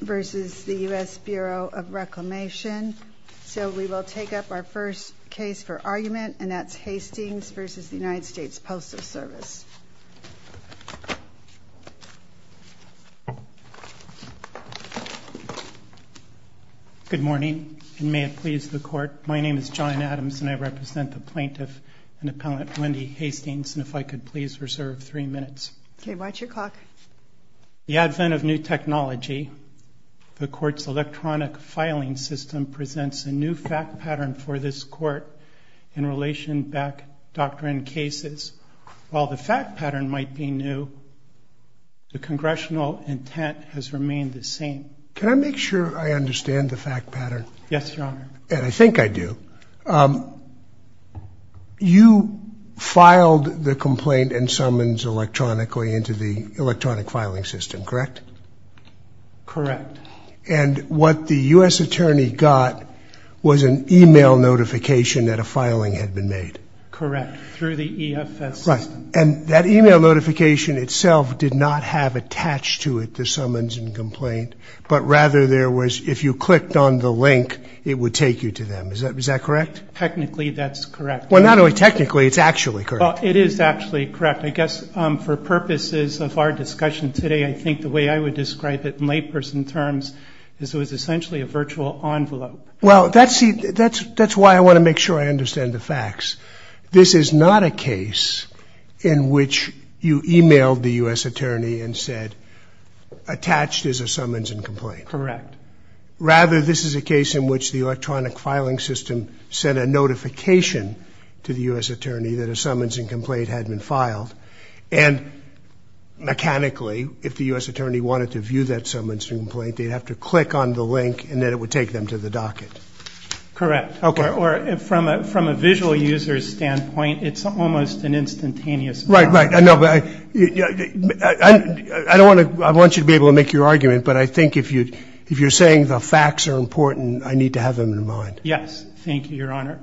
versus the US Bureau of Reclamation. So we will take up our first case for argument, and that's Hastings versus the United States Postal Service. Good morning, and may it please the court, my name is John Adams, and I represent the plaintiff and appellant Wendy Hastings. And if I could please reserve three minutes. OK, watch your clock. The advent of new technology, the court's electronic filing system presents a new fact pattern for this court in relation back doctrine cases. While the fact pattern might be new, the congressional intent has remained the same. Can I make sure I understand the fact pattern? Yes, your honor. And I think I do. You filed the complaint and summons electronically into the electronic filing system, correct? Correct. And what the US attorney got was an email notification that a filing had been made. Correct, through the EFS system. And that email notification itself did not have attached to it the summons and complaint, but rather there was, if you clicked on the link, it would take you to them. Is that correct? Technically, that's correct. Well, not only technically, it's actually correct. It is actually correct. I guess for purposes of our discussion today, I think the way I would describe it in layperson terms is it was essentially a virtual envelope. Well, that's why I want to make sure I understand the facts. This is not a case in which you emailed the US attorney and said, attached is a summons and complaint. Correct. Rather, this is a case in which the electronic filing system sent a notification to the US attorney that a summons and complaint had been filed. And mechanically, if the US attorney wanted to view that summons and complaint, they'd have to click on the link, and then it would take them to the docket. Correct. OK. Or from a visual user's standpoint, it's almost an instantaneous file. Right. I know, but I want you to be able to make your argument. But I think if you're saying the facts are important, I need to have them in mind. Yes. Thank you, Your Honor.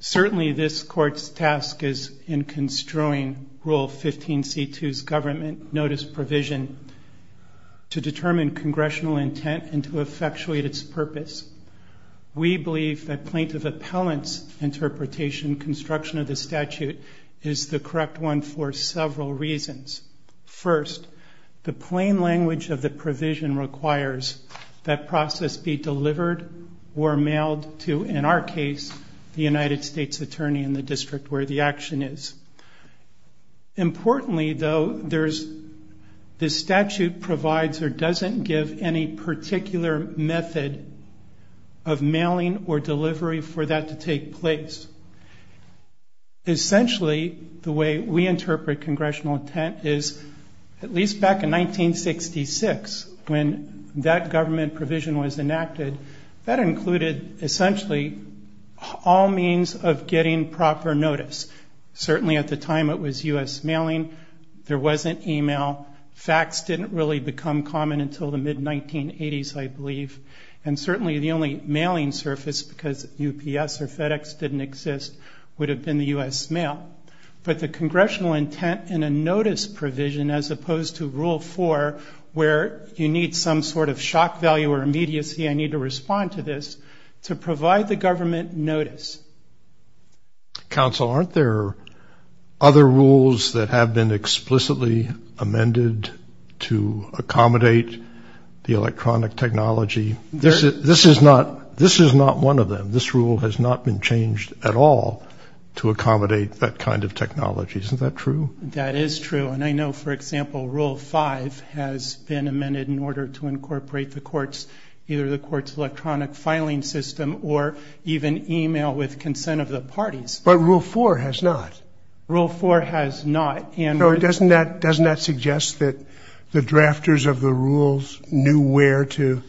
Certainly, this court's task is in construing Rule 15c2's government notice provision to determine congressional intent and to effectuate its purpose. We believe that plaintiff appellant's interpretation construction of the statute is the correct one for several reasons. First, the plain language of the provision requires that process be delivered or mailed to, in our case, the United States attorney in the district where the action is. Importantly, though, the statute provides or doesn't give any particular method of mailing or delivery for that to take place. Essentially, the way we interpret congressional intent is, at least back in 1966, when that government provision was all means of getting proper notice. Certainly, at the time it was US mailing. There wasn't email. Facts didn't really become common until the mid-1980s, I believe. And certainly, the only mailing surface, because UPS or FedEx didn't exist, would have been the US mail. But the congressional intent in a notice provision, as opposed to Rule 4, where you need some sort of shock value or immediacy, I need to respond to this, to provide the government notice. Counsel, aren't there other rules that have been explicitly amended to accommodate the electronic technology? This is not one of them. This rule has not been changed at all to accommodate that kind of technology. Isn't that true? That is true. And I know, for example, Rule 5 has been amended in order to incorporate the courts, electronic filing system, or even email with consent of the parties. But Rule 4 has not. Rule 4 has not. And doesn't that suggest that the drafters of the rules knew where to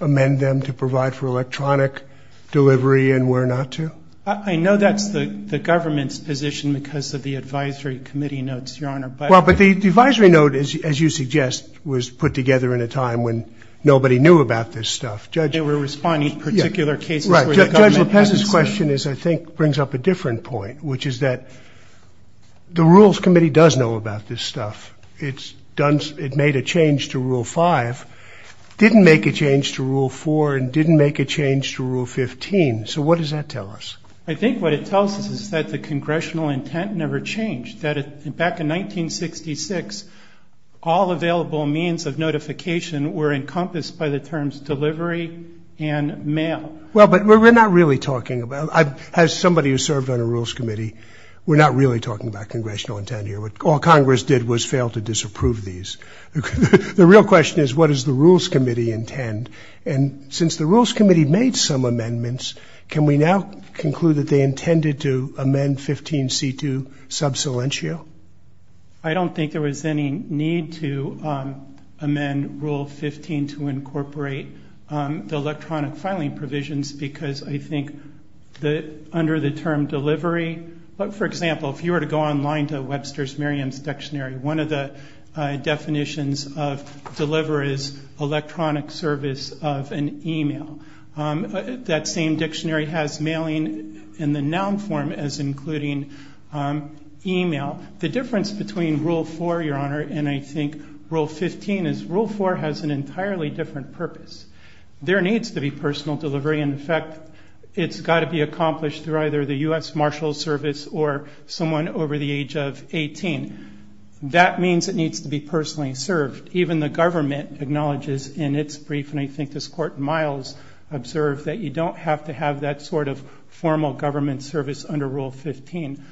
amend them to provide for electronic delivery and where not to? I know that's the government's position because of the advisory committee notes, Your Honor. But the advisory note, as you suggest, was put together in a time when nobody knew about this stuff. They were responding to particular cases where the government had to say. Judge LaPez's question, I think, brings up a different point, which is that the rules committee does know about this stuff. It made a change to Rule 5, didn't make a change to Rule 4, and didn't make a change to Rule 15. So what does that tell us? I think what it tells us is that the congressional intent never changed. Back in 1966, all available means of notification were encompassed by the terms delivery and mail. Well, but we're not really talking about it. As somebody who served on a rules committee, we're not really talking about congressional intent here. All Congress did was fail to disapprove these. The real question is, what does the rules committee intend? And since the rules committee made some amendments, can we now conclude that they intended to amend 15c2 sub silentio? I don't think there was any need to amend Rule 15 to incorporate the electronic filing provisions, because I think that under the term delivery, but for example, if you were to go online to Webster's Merriam's dictionary, one of the definitions of deliver is electronic service of an email. That same dictionary has mailing in the noun form as including email. The difference between Rule 4, Your Honor, and I think Rule 15 is Rule 4 has an entirely different purpose. There needs to be personal delivery. And in fact, it's got to be accomplished through either the US Marshals Service or someone over the age of 18. That means it needs to be personally served. Even the government acknowledges in its brief, and I think this court, Miles, observed that you don't have to have that sort of formal government service under Rule 15.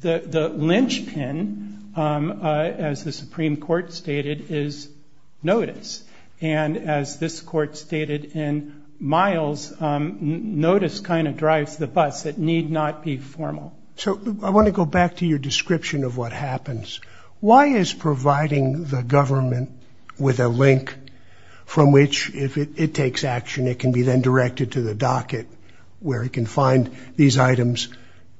The linchpin, as the Supreme Court stated, is notice. And as this court stated in Miles, notice kind of drives the bus. It need not be formal. So I want to go back to your description of what happens. Why is providing the government with a link from which, if it takes action, it can be then directed to the docket where it can find these items,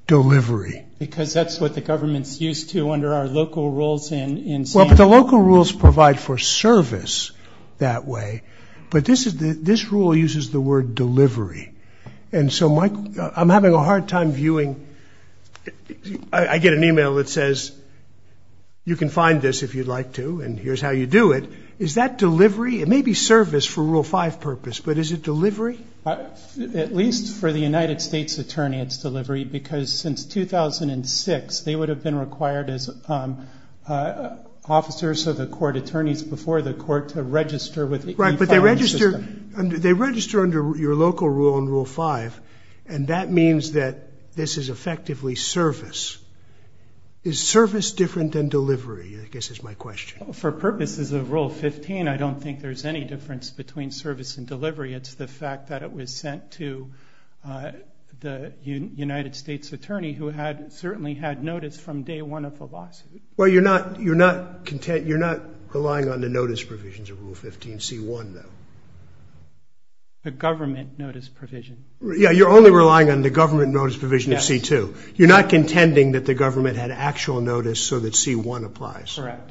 delivery? Because that's what the government's used to under our local rules in San Diego. Well, but the local rules provide for service that way. But this rule uses the word delivery. And so, Mike, I'm having a hard time viewing. I get an email that says, you can find this if you'd like to, and here's how you do it. It may be service for Rule 5 purpose, but is it delivery? At least for the United States attorney, it's delivery. Because since 2006, they would have been required as officers of the court, attorneys before the court, to register with the e-filing system. Right, but they register under your local rule in Rule 5. And that means that this is effectively service. Is service different than delivery, I guess is my question. For purposes of Rule 15, I don't think there's any difference between service and delivery. It's the fact that it was sent to the United States attorney who had certainly had notice from day one of the lawsuit. Well, you're not content, you're not relying on the notice provisions of Rule 15 C1, though. The government notice provision. Yeah, you're only relying on the government notice provision of C2. You're not contending that the government had actual notice so that C1 applies. Correct.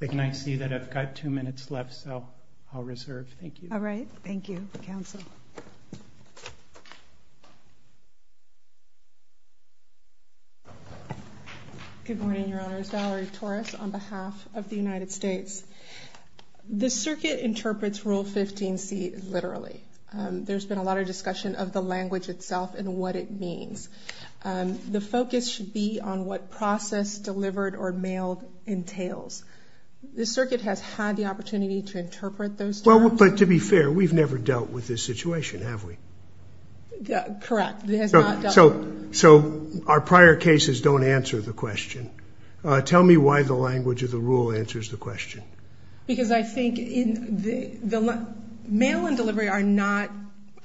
And I see that I've got two minutes left, so I'll reserve, thank you. All right, thank you, counsel. Good morning, Your Honors, Valerie Torres on behalf of the United States. The circuit interprets Rule 15 C literally. There's been a lot of discussion of the language itself and what it means. The focus should be on what process delivered The circuit has had the opportunity to interpret those terms. Well, but to be fair, we've never dealt with this situation, have we? Correct, it has not dealt with it. So our prior cases don't answer the question. Tell me why the language of the rule answers the question. Because I think, mail and delivery are not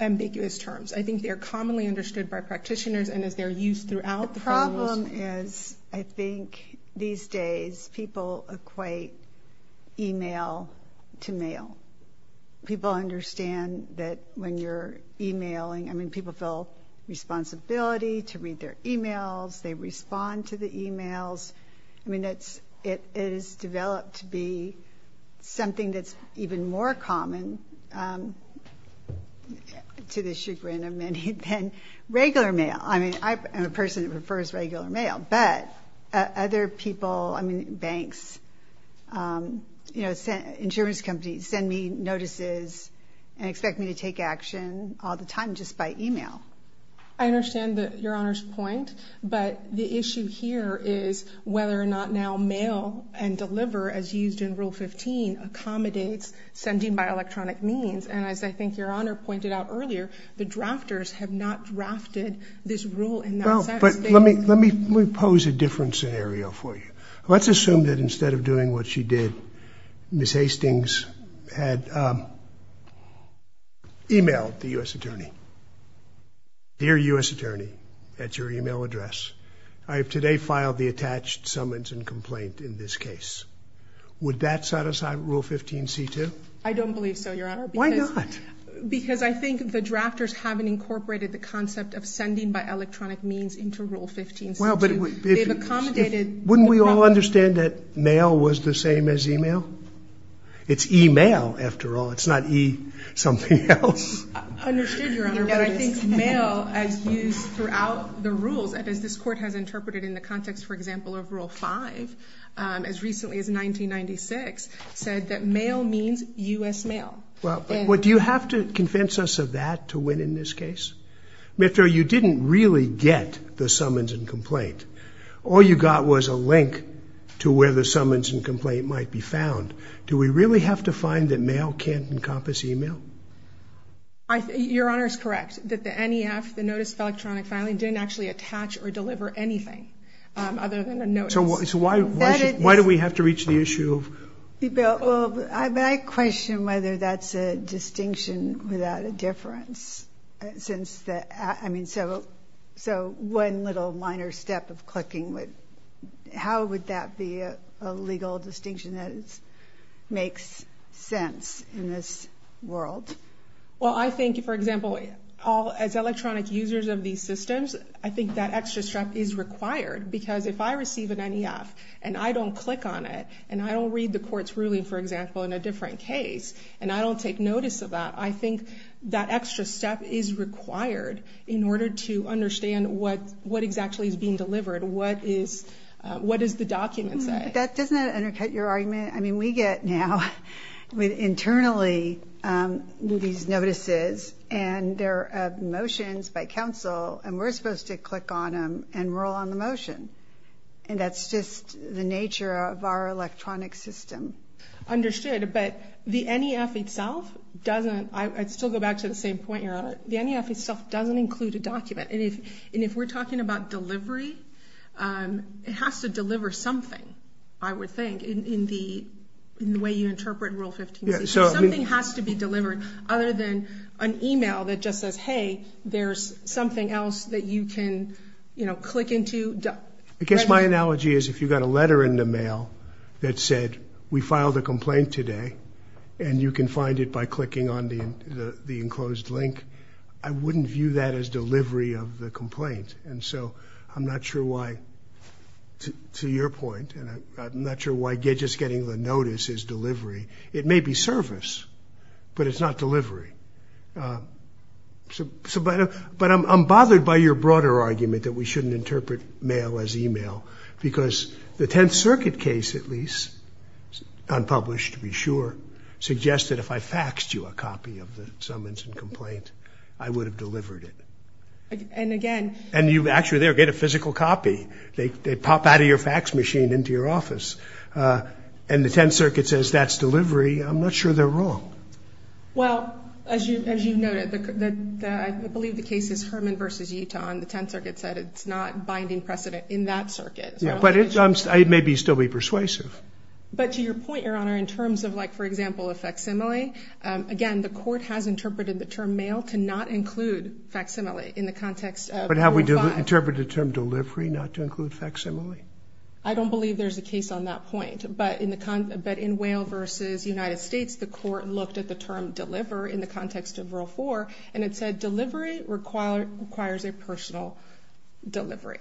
ambiguous terms. I think they're commonly understood by practitioners and as they're used throughout the federal system. The problem is I think these days people equate email to mail. People understand that when you're emailing, I mean, people feel responsibility to read their emails, they respond to the emails. I mean, it is developed to be something that's even more common to the chagrin of many than regular mail. I mean, I am a person that prefers regular mail, but other people, I mean, banks, insurance companies send me notices and expect me to take action all the time just by email. I understand that your honor's point, but the issue here is whether or not now mail and deliver as used in rule 15 accommodates sending by electronic means. And as I think your honor pointed out earlier, the drafters have not drafted this rule in that sense. But let me pose a different scenario for you. Let's assume that instead of doing what she did, Ms. Hastings had emailed the U.S. attorney. Dear U.S. attorney, at your email address, I have today filed the attached summons and complaint in this case. Would that set aside rule 15 C2? I don't believe so, your honor. Why not? Because I think the drafters haven't incorporated the concept of sending by electronic means into rule 15 C2. Well, but if- They've accommodated- Wouldn't we all understand that mail was the same as email? It's email after all, it's not E something else. Understood, your honor, but I think mail as used throughout the rules, as this court has interpreted in the context, for example, of rule five, as recently as 1996, said that mail means U.S. mail. Well, but do you have to convince us of that to win in this case? Mr. O, you didn't really get the summons and complaint. All you got was a link to where the summons and complaint might be found. Do we really have to find that mail can't encompass email? Your honor is correct, that the NEF, the Notice of Electronic Filing, didn't actually attach or deliver anything other than a notice. So why do we have to reach the issue of- Well, I question whether that's a distinction without a difference, since the, I mean, so one little minor step of clicking would, how would that be a legal distinction that makes sense in this world? Well, I think, for example, as electronic users of these systems, I think that extra step is required, because if I receive an NEF, and I don't click on it, and I don't read the court's ruling, for example, in a different case, and I don't take notice of that, I think that extra step is required in order to understand what exactly is being delivered. What is the document say? That doesn't undercut your argument. I mean, we get now, internally, these notices, and they're motions by counsel, and we're supposed to click on them and roll on the motion. And that's just the nature of our electronic system. Understood, but the NEF itself doesn't, I'd still go back to the same point, your honor. The NEF itself doesn't include a document. And if we're talking about delivery, it has to deliver something, I would think, in the way you interpret Rule 15-C. Something has to be delivered other than an email that just says, hey, there's something else that you can click into. I guess my analogy is if you got a letter in the mail that said, we filed a complaint today, and you can find it by clicking on the enclosed link, I wouldn't view that as delivery of the complaint. And so I'm not sure why, to your point, and I'm not sure why just getting the notice is delivery. It may be service, but it's not delivery. But I'm bothered by your broader argument that we shouldn't interpret mail as email, because the Tenth Circuit case, at least, unpublished, to be sure, suggests that if I faxed you a copy of the summons and complaint, I would have delivered it. And again. And you actually there get a physical copy. They pop out of your fax machine into your office. And the Tenth Circuit says that's delivery. I'm not sure they're wrong. Well, as you noted, I believe the case is Herman v. Utah, and the Tenth Circuit said it's not binding precedent in that circuit. But it may still be persuasive. But to your point, Your Honor, in terms of, like, for example, a facsimile, again, the court has interpreted the term mail to not include facsimile in the context of Rule 5. But have we interpreted the term delivery not to include facsimile? I don't believe there's a case on that point. But in Whale v. United States, the court looked at the term deliver in the context of Rule 4, and it said, delivery requires a personal delivery.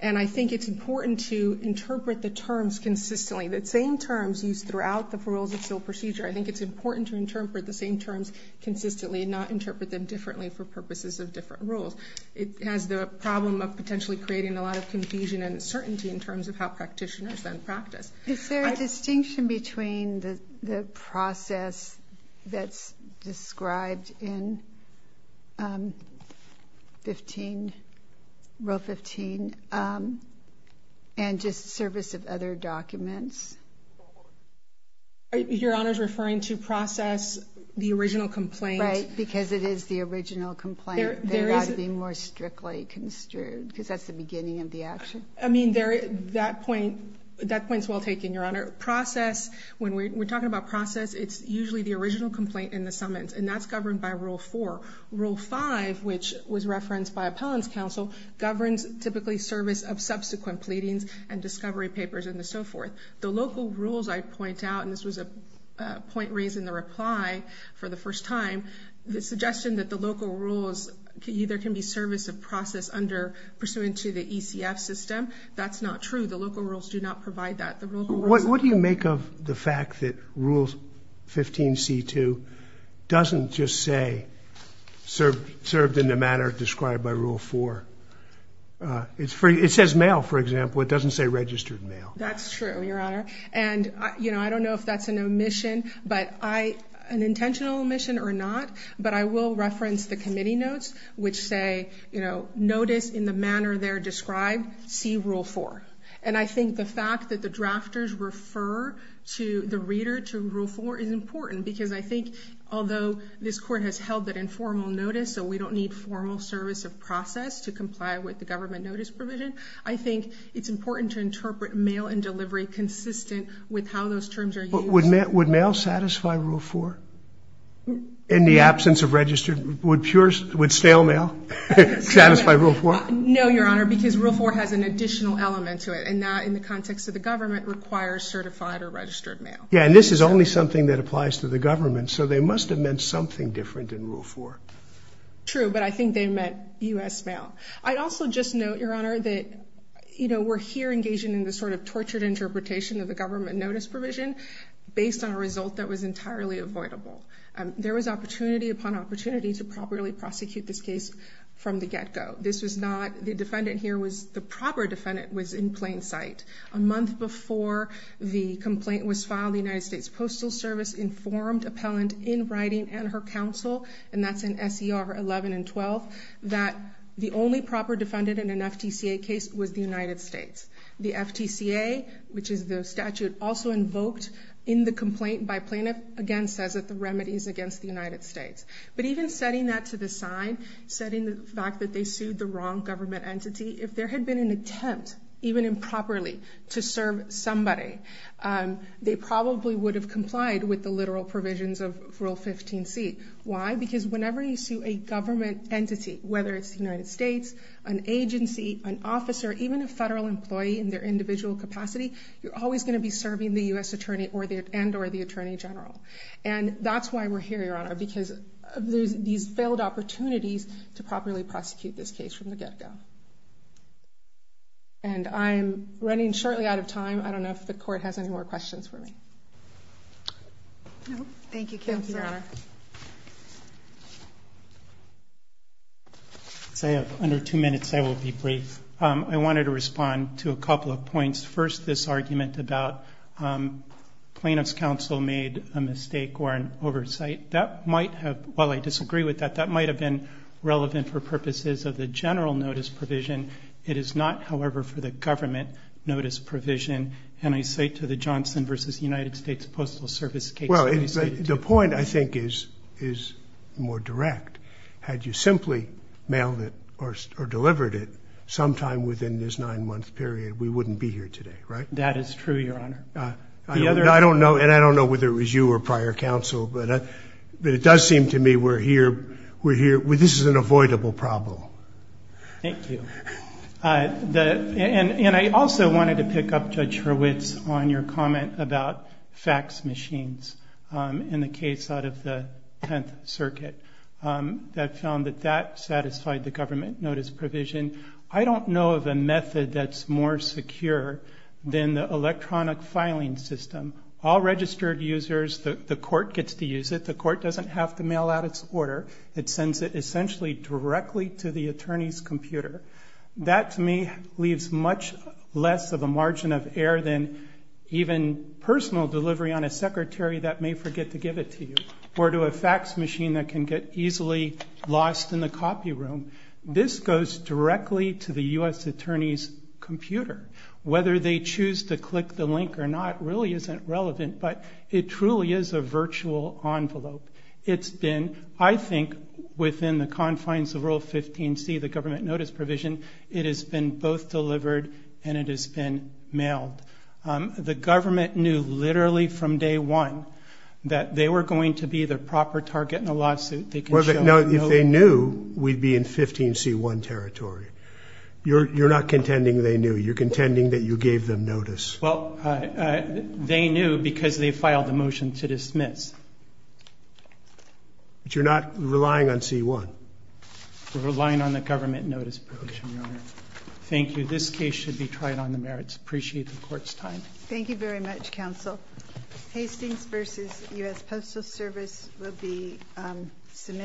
And I think it's important to interpret the terms consistently, the same terms used throughout the rules of civil procedure. I think it's important to interpret the same terms consistently and not interpret them differently for purposes of different rules. It has the problem of potentially creating a lot of confusion and uncertainty in terms of how practitioners then practice. Is there a distinction between the process that's described in 15, Rule 15, and just service of other documents? Your Honor's referring to process, the original complaint. Right, because it is the original complaint. There has to be more strictly construed, because that's the beginning of the action. I mean, that point's well taken, Your Honor. Process, when we're talking about process, it's usually the original complaint in the summons, and that's governed by Rule 4. Rule 5, which was referenced by appellant's counsel, governs typically service of subsequent pleadings and discovery papers and so forth. The local rules, I point out, and this was a point raised in the reply for the first time, the suggestion that the local rules either can be service of process under, pursuant to the ECF system, that's not true. The local rules do not provide that. What do you make of the fact that Rule 15C2 doesn't just say, served in the manner described by Rule 4? It says mail, for example, it doesn't say registered mail. That's true, Your Honor, and I don't know if that's an omission, but an intentional omission or not, but I will reference the committee notes, which say, notice in the manner they're described, see Rule 4. And I think the fact that the drafters refer to the reader to Rule 4 is important, because I think, although this court has held that informal notice, so we don't need formal service of process to comply with the government notice provision, I think it's important to interpret mail and delivery consistent with how those terms are used. Would mail satisfy Rule 4? In the absence of registered, would stale mail satisfy Rule 4? No, Your Honor, because Rule 4 has an additional element to it, and that, in the context of the government, requires certified or registered mail. Yeah, and this is only something that applies to the government, so they must have meant something different in Rule 4. True, but I think they meant U.S. mail. I'd also just note, Your Honor, that we're here engaging in this sort of tortured interpretation of the government notice provision based on a result that was entirely avoidable. There was opportunity upon opportunity to properly prosecute this case from the get-go. This was not, the defendant here was, the proper defendant was in plain sight a month before the complaint was filed. The United States Postal Service informed appellant in writing and her counsel, and that's in SER 11 and 12, that the only proper defendant in an FTCA case was the United States. The FTCA, which is the statute also invoked in the complaint by plaintiff, again says that the remedy is against the United States. But even setting that to the side, setting the fact that they sued the wrong government entity, if there had been an attempt, even improperly, to serve somebody, they probably would have complied with the literal provisions of Rule 15c. Why? Because whenever you sue a government entity, whether it's the United States, an agency, an officer, even a federal employee in their individual capacity, you're always gonna be serving the U.S. Attorney and or the Attorney General. And that's why we're here, Your Honor, because of these failed opportunities to properly prosecute this case from the get-go. And I'm running shortly out of time. I don't know if the court has any more questions for me. No, thank you, Counselor. Thank you, Your Honor. So I have under two minutes, I will be brief. I wanted to respond to a couple of points. First, this argument about plaintiff's counsel made a mistake or an oversight. that might have been relevant for purposes of the general notice provision. It is not, however, for the government notice provision. And I say to the Johnson versus United States Postal Service case- Well, the point, I think, is more direct. Had you simply mailed it or delivered it sometime within this nine-month period, we wouldn't be here today, right? That is true, Your Honor. The other- I don't know, and I don't know whether it was you or prior counsel, but it does seem to me we're here. This is an avoidable problem. Thank you. And I also wanted to pick up Judge Hurwitz on your comment about fax machines in the case out of the 10th Circuit that found that that satisfied the government notice provision. I don't know of a method that's more secure than the electronic filing system. All registered users, the court gets to use it. The court doesn't have to mail out its order. It sends it essentially directly to the attorney's computer. That, to me, leaves much less of a margin of error than even personal delivery on a secretary that may forget to give it to you or to a fax machine that can get easily lost in the copy room. This goes directly to the U.S. attorney's computer. Whether they choose to click the link or not really isn't relevant, but it truly is a virtual envelope. It's been, I think, within the confines of Rule 15C, the government notice provision, it has been both delivered and it has been mailed. The government knew literally from day one that they were going to be the proper target in a lawsuit. They can show no- If they knew, we'd be in 15C1 territory. You're not contending they knew. You're contending that you gave them notice. Well, they knew because they filed a motion to dismiss. But you're not relying on C1? We're relying on the government notice provision, Your Honor. Thank you. This case should be tried on the merits. Appreciate the court's time. Thank you very much, counsel. Hastings v. U.S. Postal Service will be submitted.